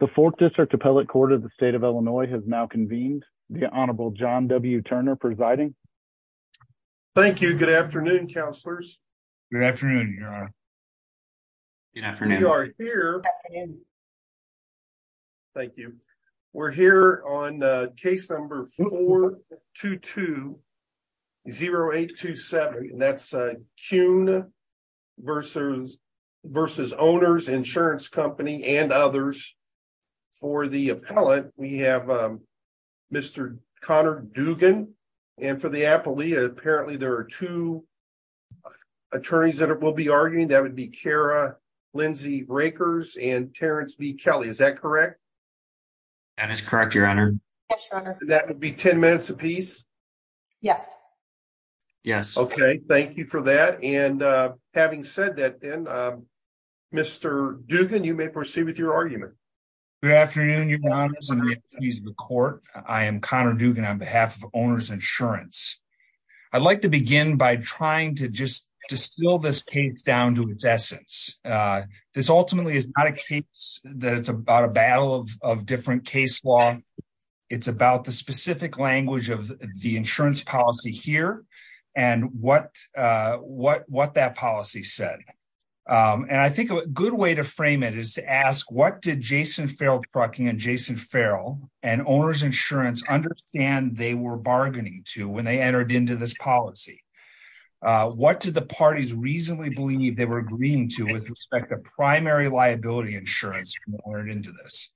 The fourth district appellate court of the state of Illinois has now convened the honorable John W. Turner presiding. Thank you. Good afternoon, counselors. Thank you. We're here on uh case number four two two zero eight two seven and that's uh Kuhn versus versus owners insurance company and others for the appellate. We have um Mr. Connor Dugan and for the appellee apparently there are two attorneys that will be arguing. That would be Kara Lindsay Rakers and Terrence B. Kelly. Is that correct? That is correct, your honor. That would be 10 minutes apiece. Yes. Yes. Okay. Thank you for that and uh having said that then um Mr. Dugan, you may proceed with your argument. Good afternoon, your honors and the attorneys of the court. I am Connor Dugan on behalf of owners insurance. I'd like to begin by trying to just distill this case down to its essence. This ultimately is not a case that it's about a battle of of different case law. It's about the specific language of the insurance policy here and what uh what what that policy said and I think a good way to frame it is to ask what did Jason Farrell Trucking and Jason Farrell and owners insurance understand they were bargaining to when they entered into this policy. What did the parties reasonably believe they were agreeing to with respect to primary liability insurance or into this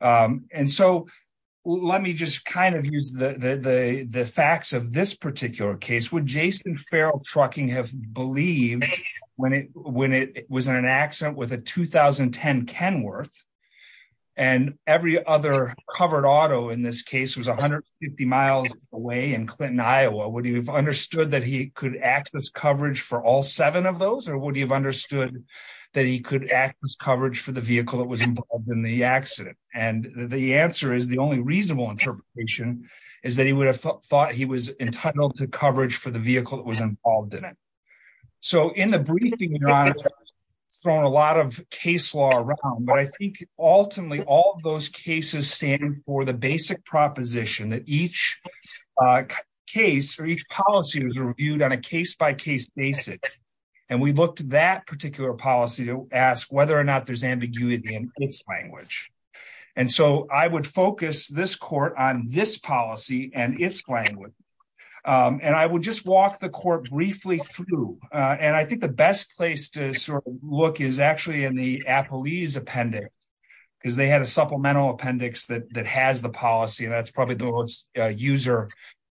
um and so let me just kind of use the the the facts of this particular case would Jason Farrell Trucking have believed when it when it was in an accident with a 2010 Kenworth and every other covered auto in this case was 150 miles away in Clinton, Iowa. Would you have understood that he could access coverage for all seven of those or would you have understood that he could access coverage for the vehicle that was involved in the accident and the answer is the only reasonable interpretation is that he would have thought he was entitled to coverage for the vehicle that was involved in it. So in the briefing we've thrown a lot of case law around but I think ultimately all those cases stand for the basic proposition that each case or each policy was reviewed on a case-by-case basis and we looked at that particular policy to ask whether or not there's ambiguity in its language and so I would focus this court on this policy and its language and I would just walk the court briefly through and I think the best place to sort of look is actually in the appellee's appendix because they had a supplemental appendix that has the policy and that's probably the most user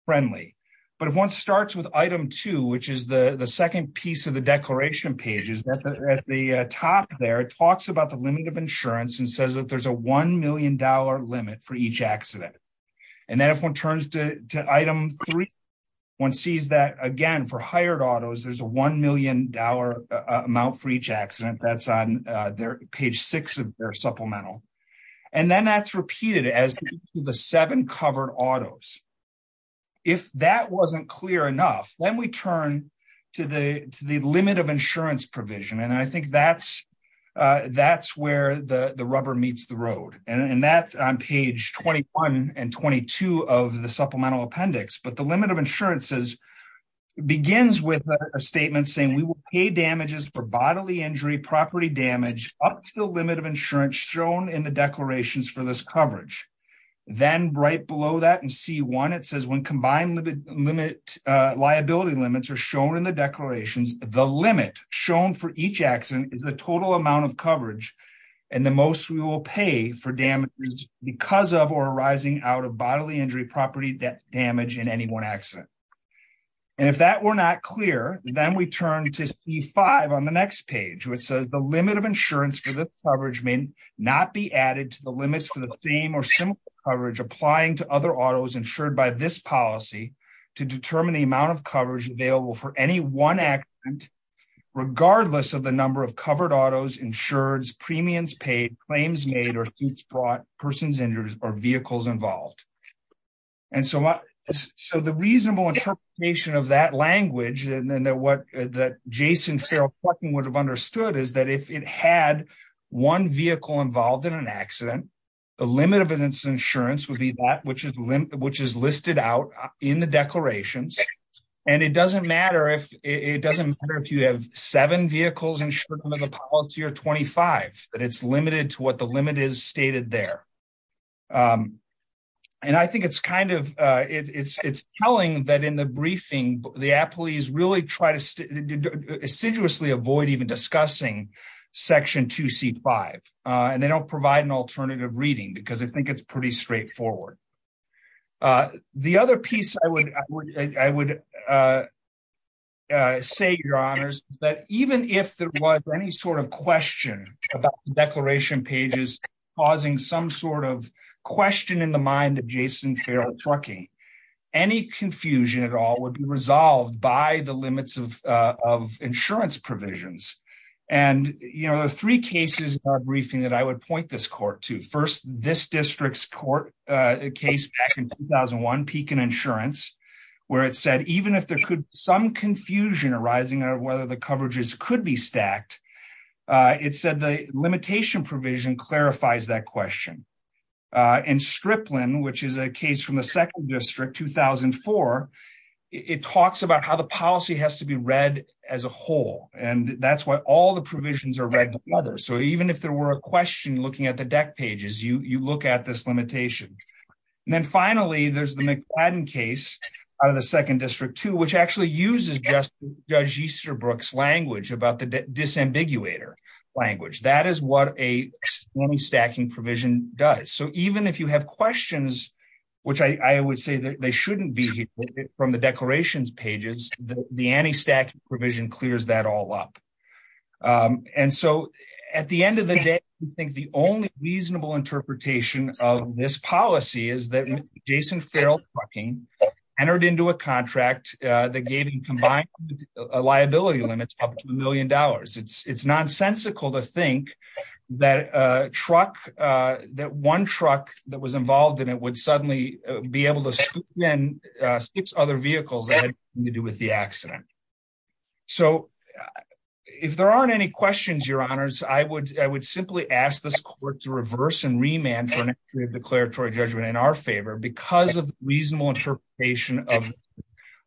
friendly but if one starts with item two which is the the second piece of the declaration page is at the top there it talks about the limit of insurance and says that there's a one million dollar limit for each accident and then if one turns to item three one sees that again for hired autos there's a one million dollar amount for each accident that's on their page six of their supplemental and then that's repeated as the seven covered autos if that wasn't clear enough then we turn to the to the limit of insurance provision and I think that's that's where the the rubber meets the road and that's on page 21 and 22 of the supplemental appendix but the limit of insurance is begins with a statement saying we will pay damages for bodily injury property damage up to the limit of insurance shown in the declarations for this coverage then right below that in c1 it says when combined limit liability limits are shown in the declarations the limit shown for each accident is the total amount of coverage and the most we will pay for damages because of or arising out of bodily injury property damage in any one accident and if that were not clear then we turn to c5 on the next page which says the limit of insurance for this coverage may not be added to the limits for the same or similar coverage applying to other autos insured by this policy to determine the amount of coverage available for any one accident regardless of the number of covered autos insureds premiums paid claims made or suits brought persons injured or vehicles involved and so what so the reasonable interpretation of that language and then what that jason ferrell would have understood is that if it had one vehicle involved in an accident the limit of its insurance would be that which is which is listed out in the declarations and it doesn't matter if it doesn't matter if you have seven vehicles insured under the policy or 25 that it's limited to what the limit is stated there um and i think it's kind of uh it's it's telling that in the briefing the apolis really try to assiduously avoid even discussing section 2c5 uh and they don't provide an alternative reading because i think it's pretty straightforward uh the other piece i would i would uh say your honors that even if there was any sort of question about the declaration pages causing some sort of question in the mind of jason ferrell trucking any confusion at all would be resolved by the limits of uh of insurance provisions and you know the three cases in our briefing that i would point this court to first this district's court uh case back in 2001 pecan insurance where it said even if there could some confusion arising out of whether the coverages could be stacked uh it said the limitation provision clarifies that question uh in stripline which is a case from the second district 2004 it talks about how the policy has to be read as a whole and that's why all the provisions are read together so even if there were a question looking at the deck pages you you look at this limitation and then finally there's the mcladden case out of the second district too which actually uses just judge easterbrook's language about the disambiguator language that is what a stacking provision does so even if you have questions which i i would say that they shouldn't be here from the declarations pages the anti-stack provision clears that all up um and so at the end of the day i think the only reasonable interpretation of this policy is that jason farrell trucking entered into a contract uh that gave him combined liability limits up to a million dollars it's it's nonsensical to think that a truck uh that one truck that was involved in it would suddenly be able to scoop in six other vehicles that had to do with the accident so if there aren't any questions your honors i would i would simply ask this court to reverse and remand for a declaratory judgment in our favor because of reasonable interpretation of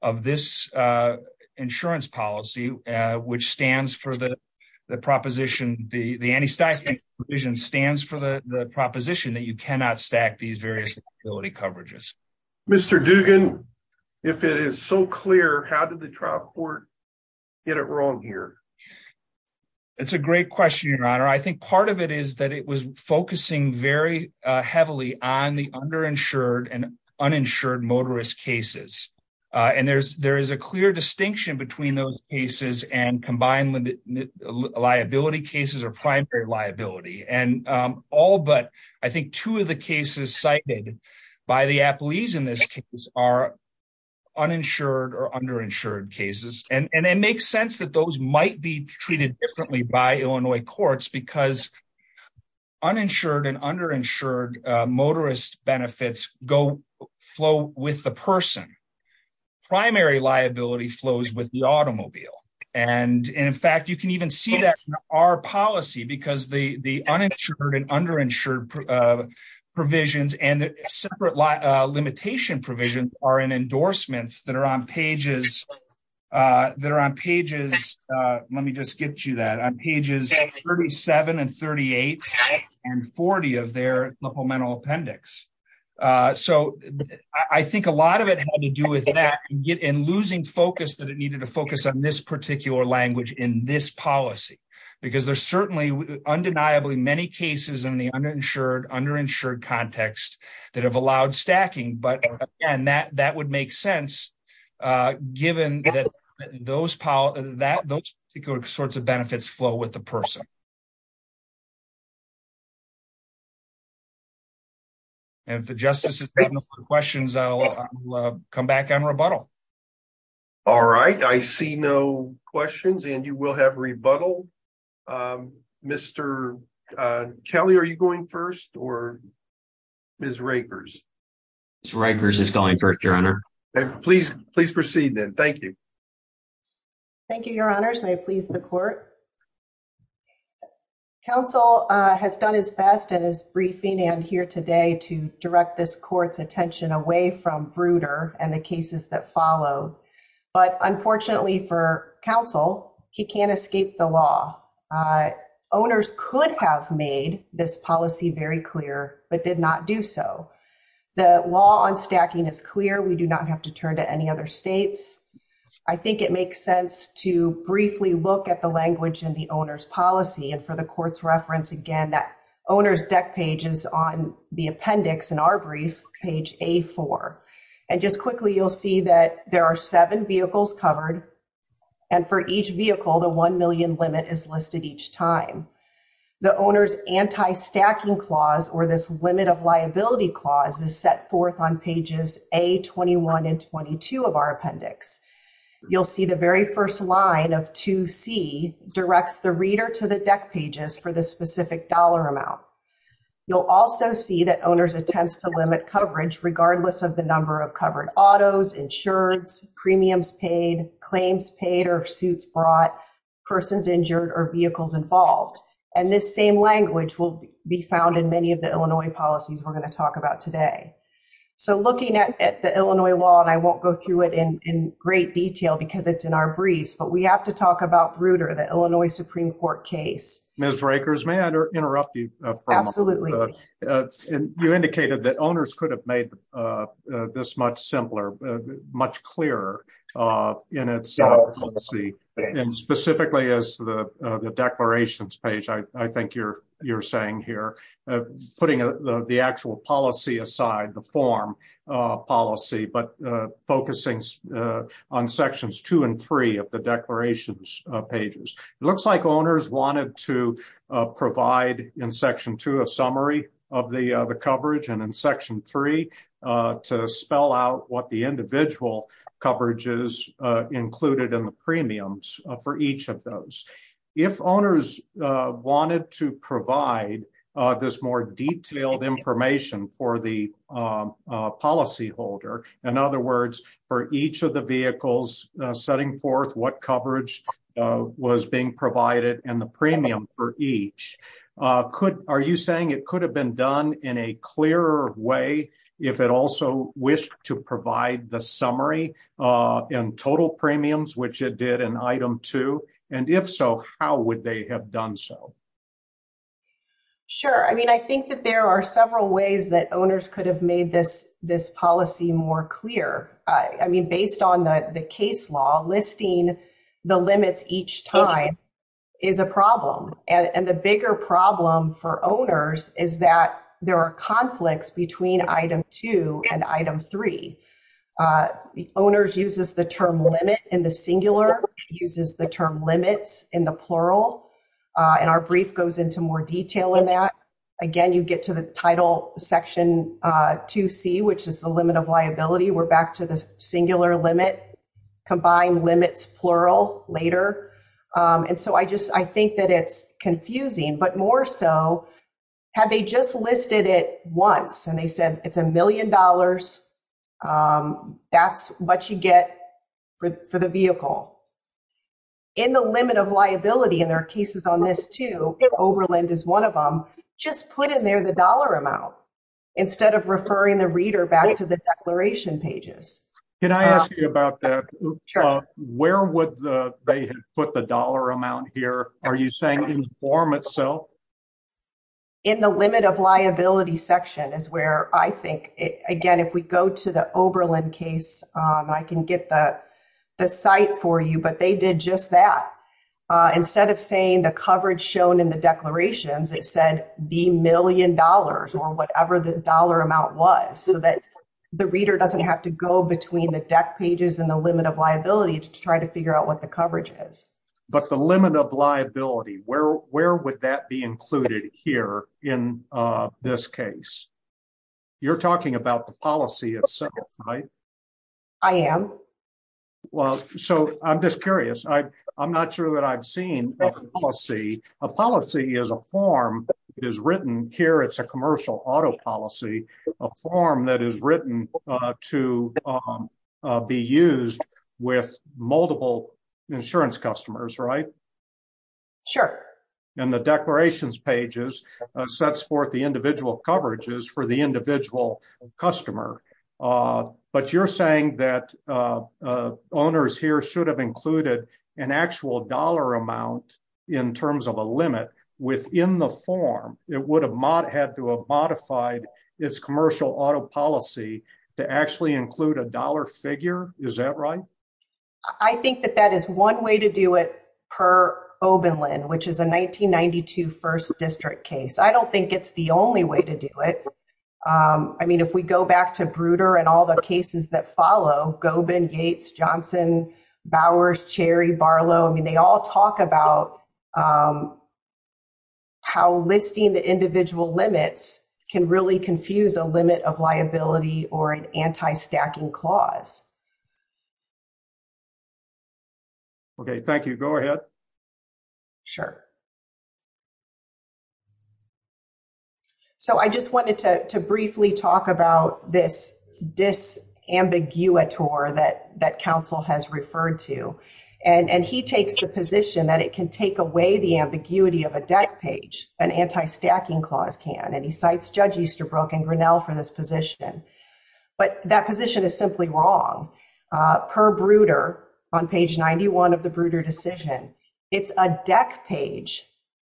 of this uh insurance policy uh which stands for the the proposition the the anti-stacking provision stands for the the proposition that you cannot stack these various utility coverages mr dugan if it is so clear how did the trial court get it wrong here it's a great question your honor i think part of it is that it was focusing very uh heavily on the underinsured and uninsured motorist cases uh and there's there is a clear distinction between those cases and combined liability cases or primary liability and um all but i think two of the cases cited by the in this case are uninsured or underinsured cases and and it makes sense that those might be treated differently by illinois courts because uninsured and underinsured motorist benefits go flow with the person primary liability flows with the automobile and in fact you can even see that our policy because the the uninsured and underinsured uh provisions and the separate limitation provisions are in endorsements that are on pages uh that are on pages uh let me just get you that on pages 37 and 38 and 40 of their supplemental appendix uh so i think a lot of it had to do with that and losing focus that it needed to focus on this particular language in this policy because there's certainly undeniably many cases in the underinsured underinsured context that have allowed stacking but again that that would make sense uh given that those power that those particular sorts of benefits flow with the person and if the justice has questions i'll come back on rebuttal all right i see no questions and you will have rebuttal um mr kelly are you going first or miss rakers miss rakers is going first your honor please please proceed then thank you thank you your honors may please the court council uh has done his best in his briefing and here today to direct this court's attention away from bruder and the cases that follow but unfortunately for council he can't escape the law owners could have made this policy very clear but did not do so the law on stacking is clear we do not have to turn to any other states i think it makes sense to briefly look at the language in the owner's policy and for the court's reference again that owner's deck page is on the and just quickly you'll see that there are seven vehicles covered and for each vehicle the 1 million limit is listed each time the owner's anti-stacking clause or this limit of liability clause is set forth on pages a 21 and 22 of our appendix you'll see the very first line of 2c directs the reader to the deck pages for the specific dollar amount you'll also see that attempts to limit coverage regardless of the number of covered autos insurance premiums paid claims paid or suits brought persons injured or vehicles involved and this same language will be found in many of the illinois policies we're going to talk about today so looking at the illinois law and i won't go through it in in great detail because it's in our briefs but we have to that owners could have made this much simpler much clearer in itself let's see and specifically as the the declarations page i i think you're you're saying here putting the actual policy aside the form policy but focusing on sections two and three of the declarations pages it looks like owners wanted to provide in section two a summary of the the coverage and in section three to spell out what the individual coverage is included in the premiums for each of those if owners wanted to provide this more detailed information for the policy holder in other words for each of the vehicles setting forth what coverage was being provided and the premium for each could are you saying it could have been done in a clearer way if it also wished to provide the summary in total premiums which it did in item two and if so how would they have done so sure i mean i think that there are several ways that owners could have made this this policy more clear i mean based on the the case law listing the limits each time is a problem and the bigger problem for owners is that there are conflicts between item two and item three owners uses the term limit in the singular uses the term limits in the plural and our brief goes into more detail in that again you get to the title section uh 2c which is the limit of liability we're back to the singular limit combined limits plural later um and so i just i think that it's confusing but more so have they just listed it once and they said it's a two overland is one of them just put in there the dollar amount instead of referring the reader back to the declaration pages can i ask you about that where would the they had put the dollar amount here are you saying inform itself in the limit of liability section is where i think again if we go to the overland case um i can get the the site for you but they did just that instead of saying the coverage shown in the declarations it said the million dollars or whatever the dollar amount was so that the reader doesn't have to go between the deck pages and the limit of liability to try to figure out what the coverage is but the limit of liability where where would that be included here in uh this case you're talking about the policy itself right i am well so i'm just curious i i'm not sure that i've seen a policy a policy is a form it is written here it's a commercial auto policy a form that is written to be used with multiple insurance customers right sure and the declarations pages sets forth the individual coverages for the should have included an actual dollar amount in terms of a limit within the form it would have not had to have modified its commercial auto policy to actually include a dollar figure is that right i think that that is one way to do it per obenlin which is a 1992 first district case i don't think it's the only way to do it um i mean if we go back to bruder and all the cases that goben gates johnson bowers cherry barlow i mean they all talk about um how listing the individual limits can really confuse a limit of liability or an anti-stacking clause okay thank you go ahead sure so i just wanted to to briefly talk about this disambiguator that that council has referred to and and he takes the position that it can take away the ambiguity of a deck page an anti-stacking clause can and he cites judge easterbrook and grinnell for this position but that position is simply wrong uh per bruder on page 91 of the bruder decision it's a deck page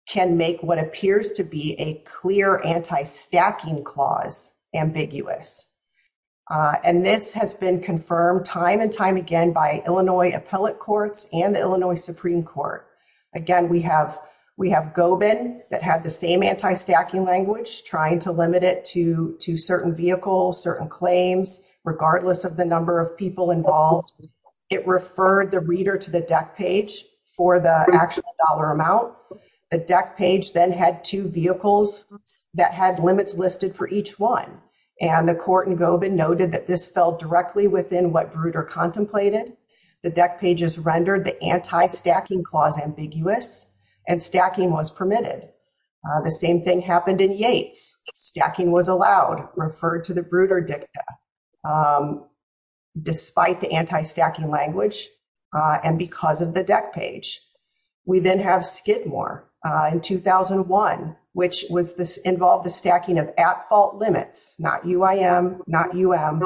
can make what appears to be a clear anti-stacking clause ambiguous and this has been confirmed time and time again by illinois appellate courts and the illinois supreme court again we have we have goben that had the same anti-stacking language trying to limit it to to certain vehicles certain claims regardless of the number of people involved it referred the reader to the deck page for the actual dollar amount the deck page then had two vehicles that had limits listed for each one and the court and goben noted that this fell directly within what bruder contemplated the deck pages rendered the anti-stacking clause ambiguous and stacking was permitted the same thing happened in yates stacking was allowed referred to the bruder dicta um despite the anti-stacking language uh and because of the deck page we then have skidmore uh in 2001 which was this involved the stacking of at fault limits not uim not um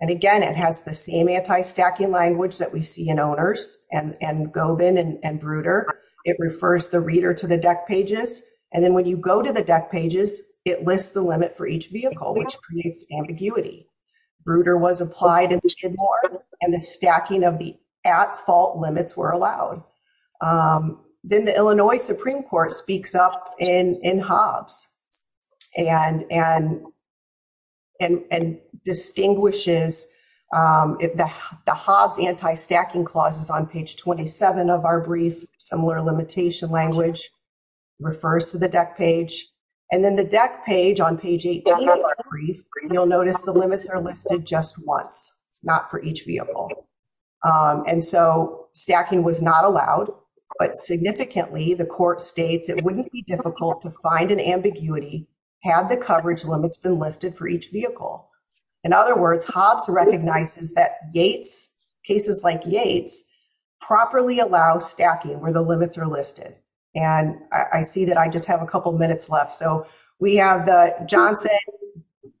and again it has the same anti-stacking language that we see in owners and and goben and bruder it refers the reader to the deck pages and then when you go to the deck pages it lists the limit for each vehicle which creates ambiguity bruder was applied in skidmore and the stacking of the at fault limits were allowed um then the illinois supreme court speaks up in in hobbs and and and and distinguishes um if the the hobbs anti-stacking clauses on page 27 of our brief similar limitation language refers to the deck page and then the deck page on page 18 brief you'll notice the limits are listed just once it's not for each vehicle um and so stacking was not allowed but significantly the court states it wouldn't be difficult to find an ambiguity had the coverage limits been listed for each vehicle in other words hobbs recognizes that yates cases like yates properly allow stacking where the limits are listed and i see that i just have a couple minutes left so we have the johnson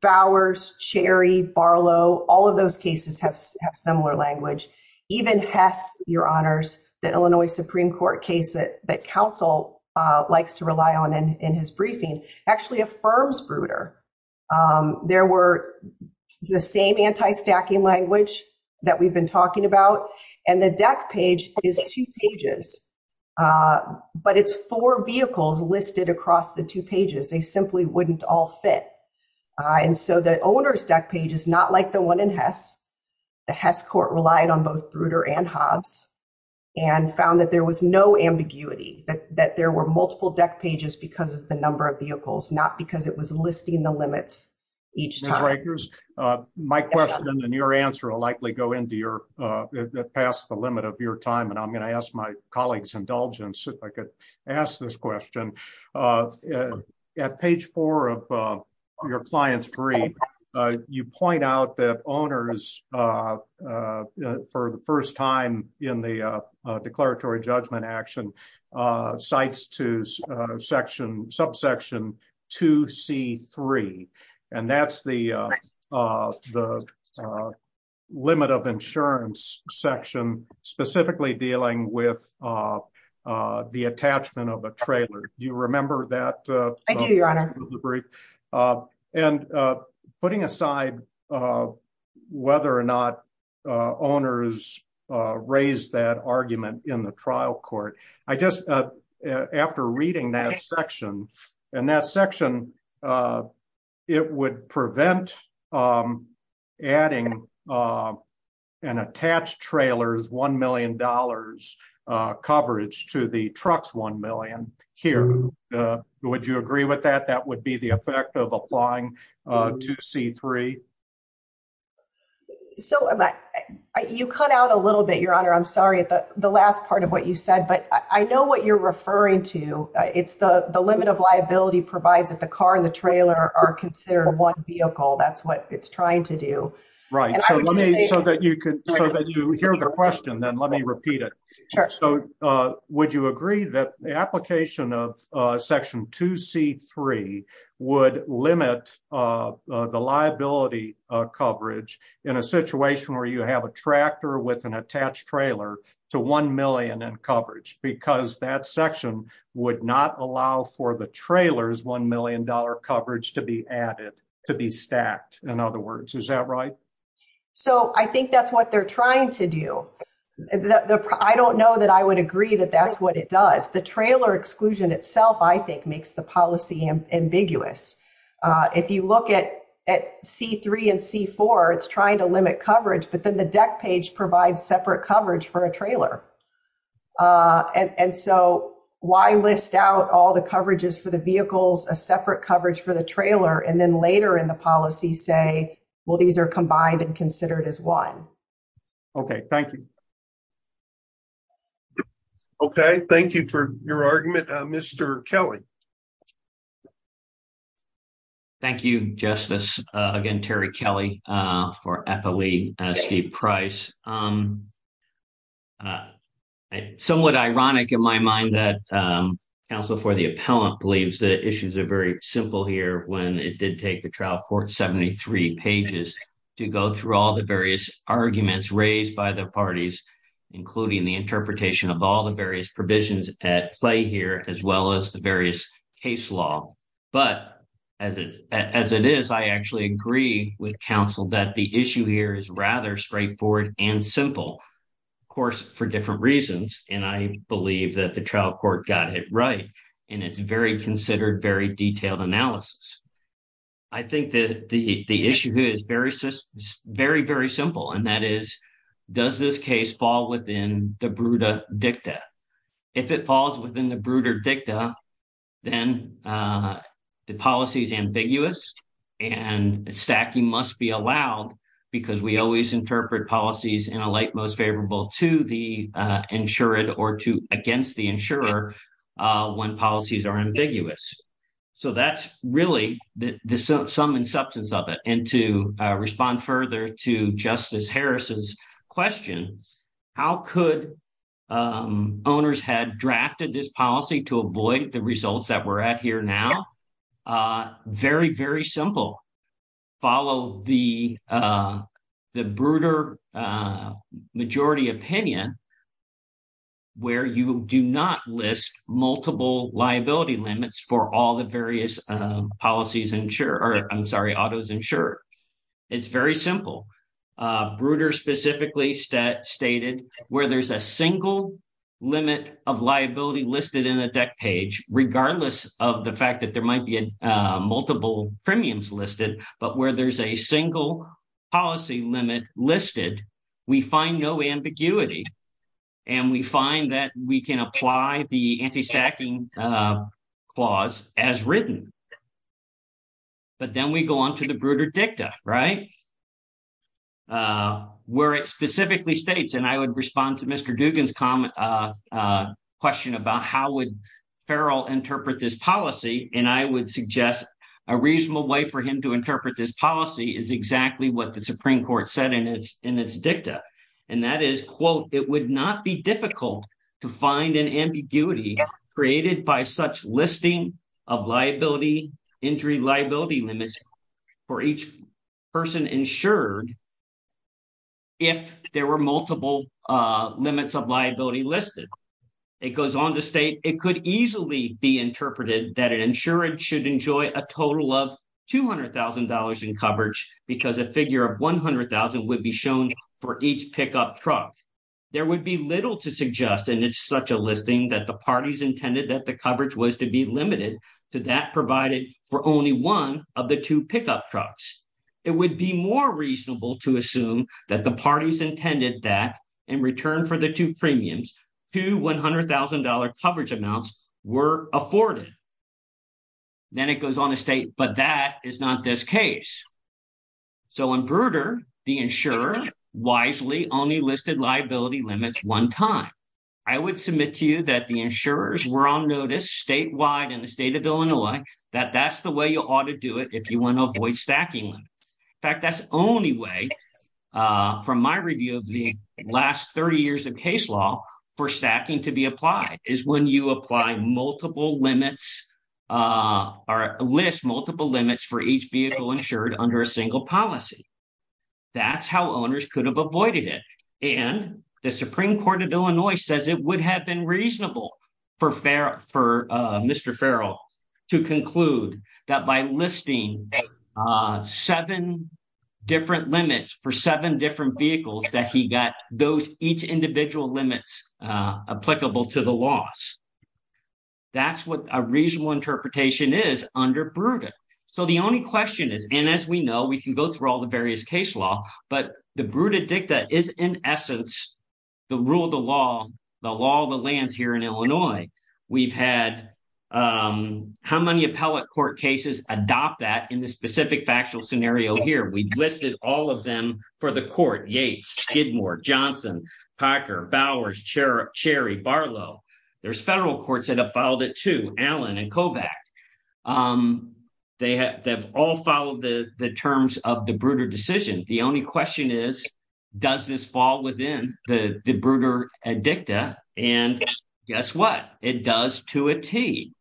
bowers cherry barlow all of those cases have similar language even hess your honors the illinois supreme court case that that council uh likes to rely on in in his briefing actually affirms bruder um there were the same anti-stacking language that we've been talking about and the deck page is two pages uh but it's four vehicles listed across the two pages they simply wouldn't all fit uh and so the owner's deck page is not like the one in hess the hess court relied on both bruder and hobbs and found that there was no ambiguity that there were multiple deck pages because of the number of vehicles not because it was listing the limits each time my question and your answer will likely go into your uh that passed the limit of your time and i'm going to ask my colleagues indulgence if i could ask this question uh at page four of uh your client's brief uh you point out that owners uh uh for the first time in the uh declaratory judgment action uh cites to uh section subsection 2 c 3 and that's the uh uh the uh limit of insurance section specifically dealing with uh uh the attachment of a trailer do you remember that your honor the brief uh and uh putting aside uh whether or not uh owners uh raised that argument in the trial court i just uh after reading that section and that section uh it would prevent um adding uh an attached trailer's one million dollars uh coverage to the trucks here would you agree with that that would be the effect of applying uh to c3 so you cut out a little bit your honor i'm sorry at the the last part of what you said but i know what you're referring to it's the the limit of liability provides that the car and the trailer are considered one vehicle that's what it's trying to do right so let me so that you could so that you hear the question then let me repeat it so uh would you agree that the application of uh section 2 c 3 would limit uh the liability uh coverage in a situation where you have a tractor with an attached trailer to 1 million in coverage because that section would not allow for the trailer's 1 million dollar coverage to be added to be stacked in other words is that right so i think that's what they're trying to do the i don't know that i would agree that that's what it does the trailer exclusion itself i think makes the policy ambiguous uh if you look at at c3 and c4 it's trying to limit coverage but then the deck page provides separate coverage for a trailer uh and and so why list out all the coverages for the vehicles a separate coverage for the trailer and then later in the policy say well these are combined and considered as one okay thank you okay thank you for your argument uh mr kelly thank you justice uh again terry kelly uh for epily steve price um somewhat ironic in my mind that um council for the appellant believes the issues are very simple here when it did take the trial court 73 pages to go through all the various arguments raised by the parties including the interpretation of all the various provisions at play here as well as the various case law but as as it is i actually agree with council that the issue here is rather straightforward and simple of course for different reasons and i believe that the trial court got it right and it's very considered very detailed analysis i think that the the issue here is very system very very simple and that is does this case fall within the bruta dicta if it falls within the brooder dicta then uh the policy is ambiguous and stacking must be allowed because we always when policies are ambiguous so that's really the the sum and substance of it and to respond further to justice harris's questions how could um owners had drafted this policy to avoid the results that we're at here now uh very very simple follow the uh the brooder uh majority opinion where you do not list multiple liability limits for all the various uh policies ensure or i'm sorry autos ensure it's very simple uh bruder specifically stated where there's a single limit of liability listed in the deck page regardless of the fact that there might be multiple premiums we find no ambiguity and we find that we can apply the anti-stacking uh clause as written but then we go on to the brooder dicta right uh where it specifically states and i would respond to mr dugan's comment uh uh question about how would farrell interpret this policy and i would suggest a reasonable way for him to in its dicta and that is quote it would not be difficult to find an ambiguity created by such listing of liability injury liability limits for each person insured if there were multiple uh limits of liability listed it goes on to state it could easily be interpreted that an insurance should enjoy a total of two hundred thousand dollars in coverage because a figure of 100,000 would be shown for each pickup truck there would be little to suggest and it's such a listing that the parties intended that the coverage was to be limited to that provided for only one of the two pickup trucks it would be more reasonable to assume that the parties intended that in return for the two premiums two one hundred thousand dollar coverage amounts were afforded then it goes on to state but that is not this case so in brooder the insurer wisely only listed liability limits one time i would submit to you that the insurers were on notice statewide in the state of illinois that that's the way you ought to do it if you want to avoid stacking in fact that's only way uh from my review of the last 30 years of case law for stacking to be applied is when you apply multiple limits uh or list multiple limits for each vehicle insured under a single policy that's how owners could have avoided it and the supreme court of illinois says it would have been different limits for seven different vehicles that he got those each individual limits uh applicable to the loss that's what a reasonable interpretation is under brooder so the only question is and as we know we can go through all the various case law but the brooder dicta is in essence the rule of the law the law of the lands here in illinois we've had um how many appellate court cases adopt that in the specific factual scenario here we've listed all of them for the court yates skidmore johnson packer bowers cherry barlow there's federal courts that have followed it to allen and kovac um they have all followed the the terms of the brooder decision the only question is does this fall within the the brooder edicta and guess what it does to a t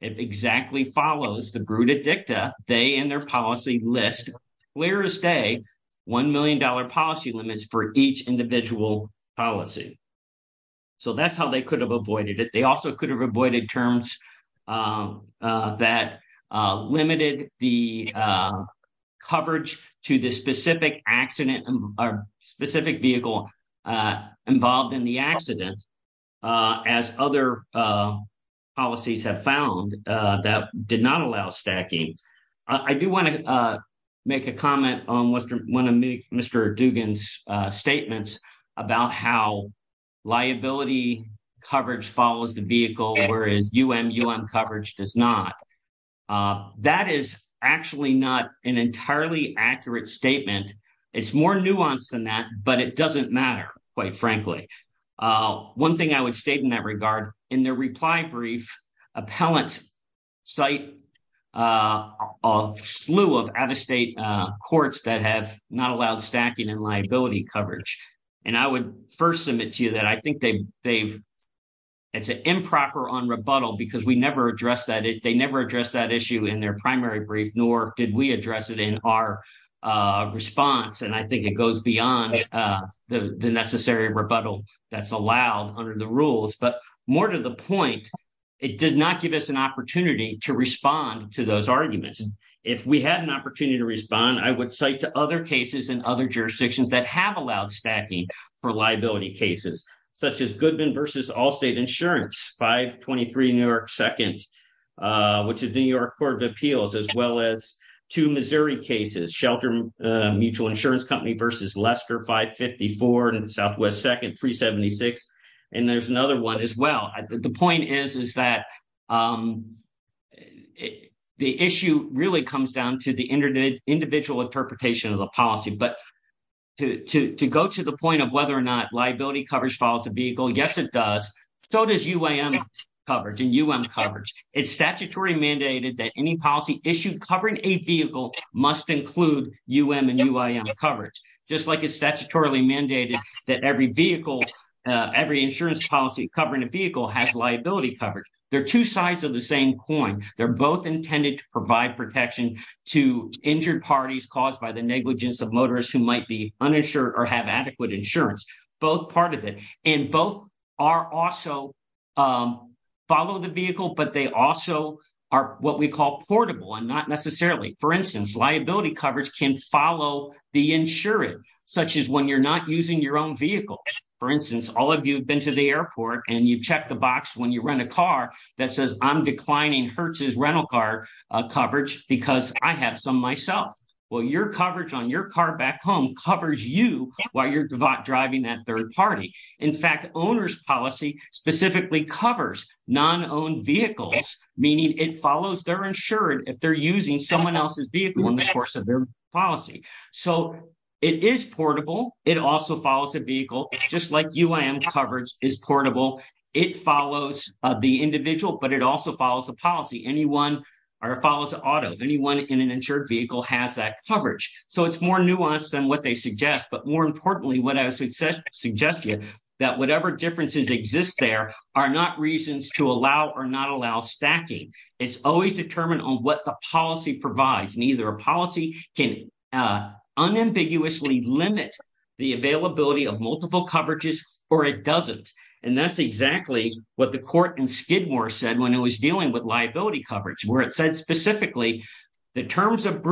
it exactly follows the brooder dicta they and their policy list clear as day one million dollar policy limits for each individual policy so that's how they could have avoided it they also could have avoided terms uh that uh limited the uh coverage to the specific accident or specific vehicle uh involved in the accident uh as other uh policies have found uh that did not allow stacking i do want to uh make a comment on western one of mr dugan's uh statements about how liability coverage follows the vehicle whereas um um coverage does not uh that is actually not an entirely accurate statement it's more nuanced than that but it doesn't matter quite frankly uh one thing i would state in that regard in their reply brief appellant site uh of slew of out-of-state uh courts that have not allowed stacking and liability coverage and i would first submit to you that i think they they've it's an improper on rebuttal because we never addressed that they it in our uh response and i think it goes beyond uh the the necessary rebuttal that's allowed under the rules but more to the point it does not give us an opportunity to respond to those arguments if we had an opportunity to respond i would cite to other cases in other jurisdictions that have allowed stacking for liability cases such as goodman versus all state insurance 523 new york second uh which is new york court of appeals as well as two missouri cases shelter mutual insurance company versus lester 554 and southwest second 376 and there's another one as well the point is is that um the issue really comes down to the internet individual interpretation of the policy but to to go to the point of whether or not liability coverage follows the vehicle yes it does so does uam coverage and um coverage it's statutory mandated that any policy issued covering a vehicle must include um and um coverage just like it's statutorily mandated that every vehicle every insurance policy covering a vehicle has liability coverage they're two sides of the same coin they're both intended to provide protection to injured parties caused by the negligence of motorists who might be uninsured or have adequate insurance both part of it and both are also um follow the vehicle but they also are what we call portable and not necessarily for instance liability coverage can follow the insurance such as when you're not using your own vehicle for instance all of you have been to the airport and you've checked the box when you rent a car that says i'm declining hertz's rental car coverage because i have some myself well your in fact owner's policy specifically covers non-owned vehicles meaning it follows they're insured if they're using someone else's vehicle in the course of their policy so it is portable it also follows the vehicle just like uam coverage is portable it follows the individual but it also follows the policy anyone or follows the auto anyone in an insured vehicle has that coverage so it's more nuanced than what they suggest but more importantly what i would suggest suggest you that whatever differences exist there are not reasons to allow or not allow stacking it's always determined on what the policy provides neither a policy can unambiguously limit the availability of multiple coverages or it doesn't and that's exactly what the court in skidmore said when it was dealing with liability coverage where it said specifically the terms of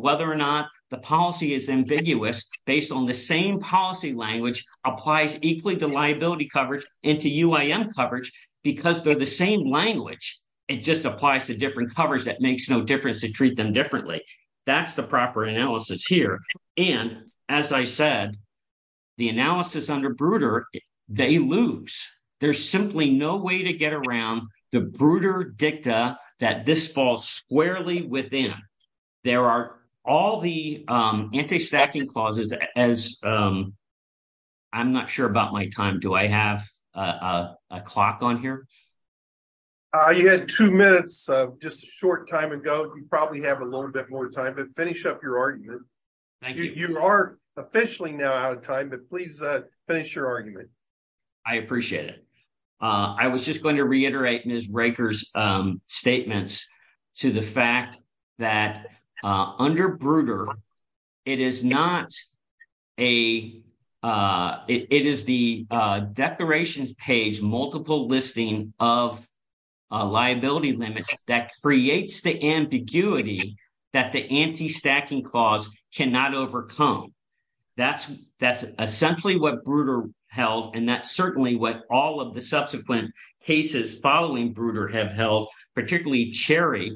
whether or not the policy is ambiguous based on the same policy language applies equally to liability coverage into uam coverage because they're the same language it just applies to different covers that makes no difference to treat them differently that's the proper analysis here and as i said the analysis under bruder they lose there's simply no way to get around the bruder dicta that this falls squarely within there are all the um anti-stacking clauses as um i'm not sure about my time do i have a a clock on here uh you had two minutes uh just a short time ago you probably have a little bit more time but finish up your argument thank you you are officially now out of time but please uh finish your argument i appreciate it uh i was just going reiterate ms raker's um statements to the fact that uh under bruder it is not a uh it is the declarations page multiple listing of uh liability limits that creates the ambiguity that the anti-stacking clause cannot overcome that's that's essentially what bruder held and that's certainly what all of the subsequent cases following bruder have held particularly cherry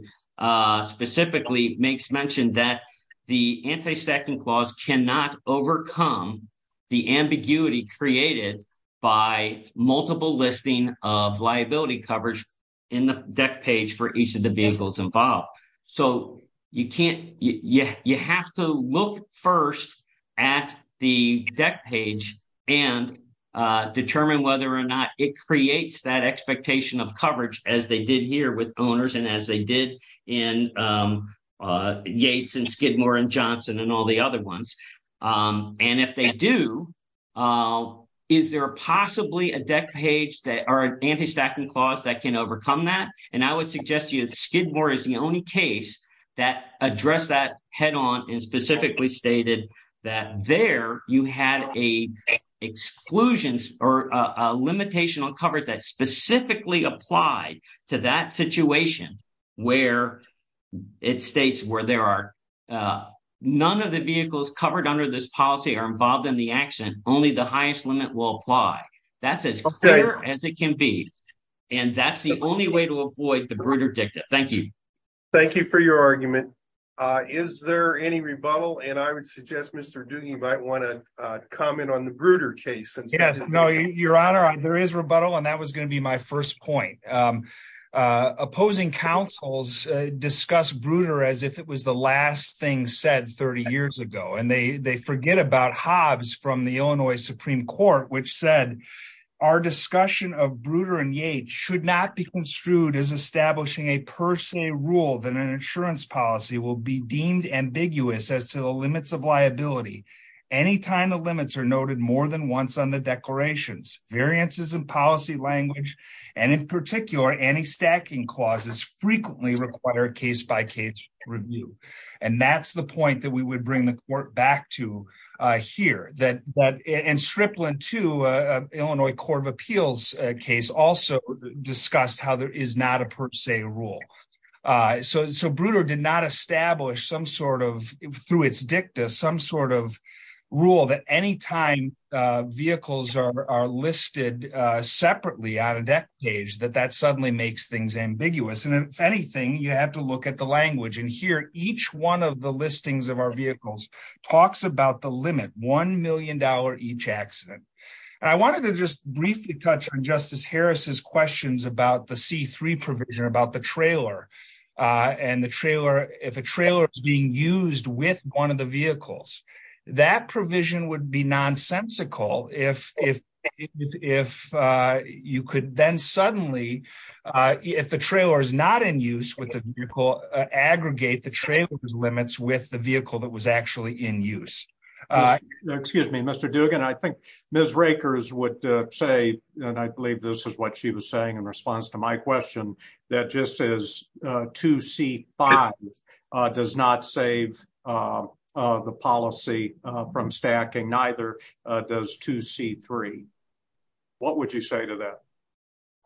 specifically makes mention that the anti-stacking clause cannot overcome the ambiguity created by multiple listing of liability coverage in the deck page for each of the vehicles involved so you can't yeah you have to look first at the deck page and determine whether or not it creates that expectation of coverage as they did here with owners and as they did in yates and skidmore and johnson and all the other ones and if they do is there possibly a deck page that are anti-stacking clause that can overcome that and i would suggest you skidmore is the only case that address that head-on and specifically stated that there you had a exclusions or a limitation on coverage that specifically applied to that situation where it states where there are uh none of the vehicles covered under this policy are involved in the action only the highest limit will apply that's as it can be and that's the only way to avoid the bruder dicta thank you thank you for your argument uh is there any rebuttal and i would suggest mr do you might want to uh comment on the bruder case yeah no your honor there is rebuttal and that was going to be my first point um uh opposing councils discuss bruder as if it was the last thing said 30 years ago and they they forget about hobbs from the illinois supreme court which said our discussion of bruder and yate should not be construed as establishing a per se rule that an insurance policy will be deemed ambiguous as to the limits of liability anytime the limits are noted more than once on the declarations variances in policy language and in particular any stacking clauses frequently require case-by-case review and that's the point that we would bring the court back to here that that in stripling to a illinois court of appeals case also discussed how there is not a per se rule uh so so bruder did not establish some sort of through its dicta some sort of rule that anytime uh vehicles are are listed uh separately on a deck page that that suddenly makes things ambiguous and if anything you have to look at the language and hear each one of the listings of our vehicles talks about the limit one million dollar each accident and i wanted to just briefly touch on justice harris's questions about the c3 provision about the trailer and the trailer if a trailer is being used with one of the vehicles that provision would be nonsensical if if if uh you could then suddenly uh if the trailer is not in use with the vehicle aggregate the trailer's limits with the vehicle that was actually in use uh excuse me mr dugan i think ms rakers would uh say and i believe this is what she was saying in response to my question that just as uh 2c5 uh does not save uh uh the policy uh from stacking neither uh does 2c3 what would you say to that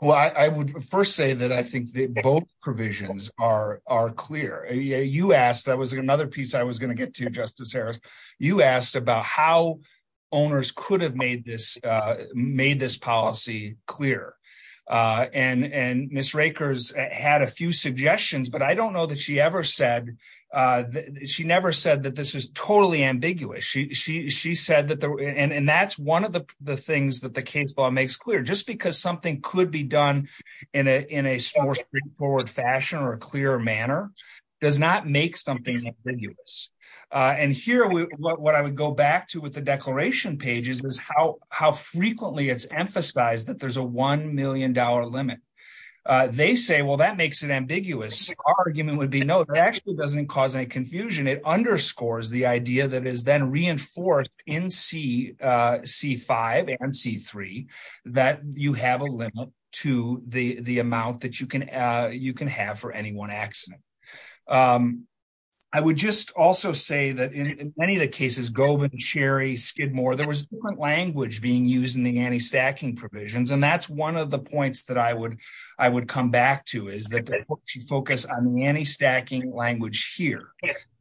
well i i would first say that i think the vote provisions are are clear yeah you asked that was another piece i was going to get to justice harris you asked about how owners could have made this uh made this policy clear uh and and miss rakers had a few suggestions but i don't know that she ever said uh she never said that this is totally ambiguous she she she said that there and and that's one of the the things that the case law makes clear just because something could be done in a in a straightforward fashion or a clear manner does not make something ambiguous uh and here we what i would go back to with the declaration pages is how how frequently it's emphasized that there's a 1 million dollar limit uh they say well that makes it ambiguous argument would be no it actually doesn't cause any confusion it underscores the idea that is then reinforced in c uh c5 and c3 that you have a limit to the the amount that you can uh you can have for any one accident um i would just also say that in many of the cases gobe and cherry skidmore there was different language being used in the anti-stacking provisions and that's one of the points that i would i would come back to is that you focus on the anti-stacking language here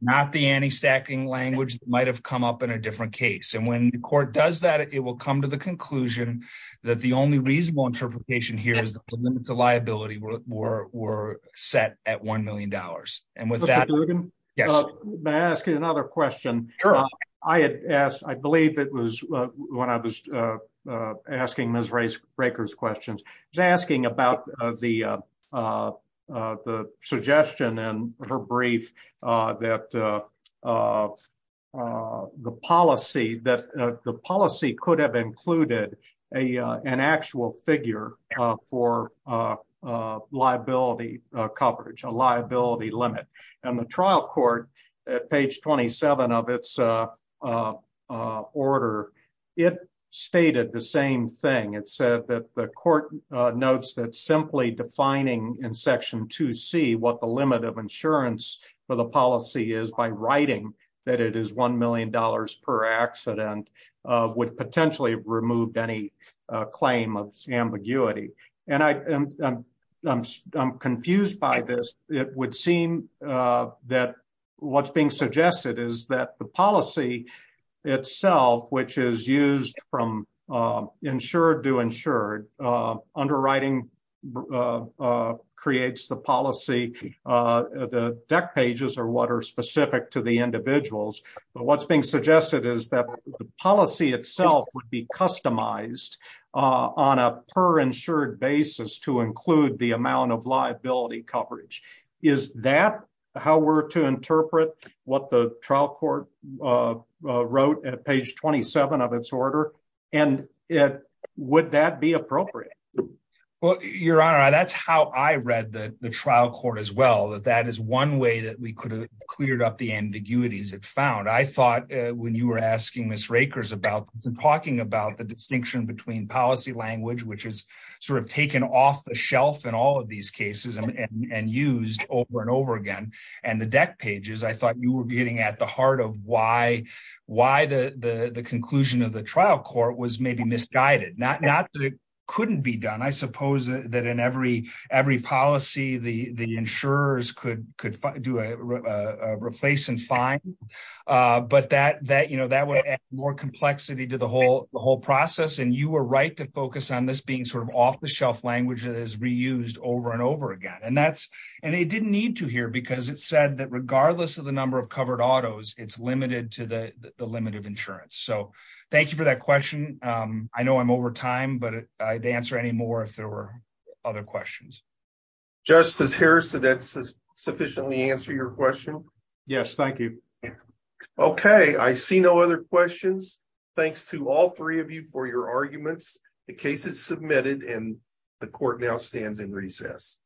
not the anti-stacking language that might have come up in a different case and when the court does that it will come to the conclusion that the only reasonable interpretation here is that the limits of liability were were set at 1 million dollars and with that yes may i ask another question i had asked i believe it was uh when i was uh uh asking miss race breakers questions i was asking about uh the uh uh the suggestion and her brief uh that uh uh uh the policy that the policy could have included a uh an actual figure uh for uh uh liability uh coverage a liability limit and the trial court at page 27 of its uh uh uh order it stated the same thing it said that the court notes that simply defining in section 2c what the limit of insurance for policy is by writing that it is 1 million dollars per accident uh would potentially have removed any claim of ambiguity and i i'm i'm confused by this it would seem uh that what's being suggested is that the policy itself which is used from uh insured to insured uh underwriting uh uh what are specific to the individuals but what's being suggested is that the policy itself would be customized uh on a per insured basis to include the amount of liability coverage is that how we're to interpret what the trial court uh wrote at page 27 of its order and it would that be appropriate well your honor that's how i read the the trial court as well that that is one way that we could have cleared up the ambiguities it found i thought when you were asking miss rakers about talking about the distinction between policy language which is sort of taken off the shelf in all of these cases and and used over and over again and the deck pages i thought you were getting at the heart of why why the the the conclusion of the trial court was maybe misguided not not that it couldn't be done i suppose that in every every policy the the insurers could could do a replace and fine uh but that that you know that would add more complexity to the whole the whole process and you were right to focus on this being sort of off the shelf language that is reused over and over again and that's and it didn't need to here because it said that regardless of the number of covered autos it's limited to the the limit of insurance so thank you for that question um i know i'm over time but i'd answer any more if there were other questions justice harris did that sufficiently answer your question yes thank you okay i see no other questions thanks to all three of you for your arguments the case is submitted and the court now stands in recess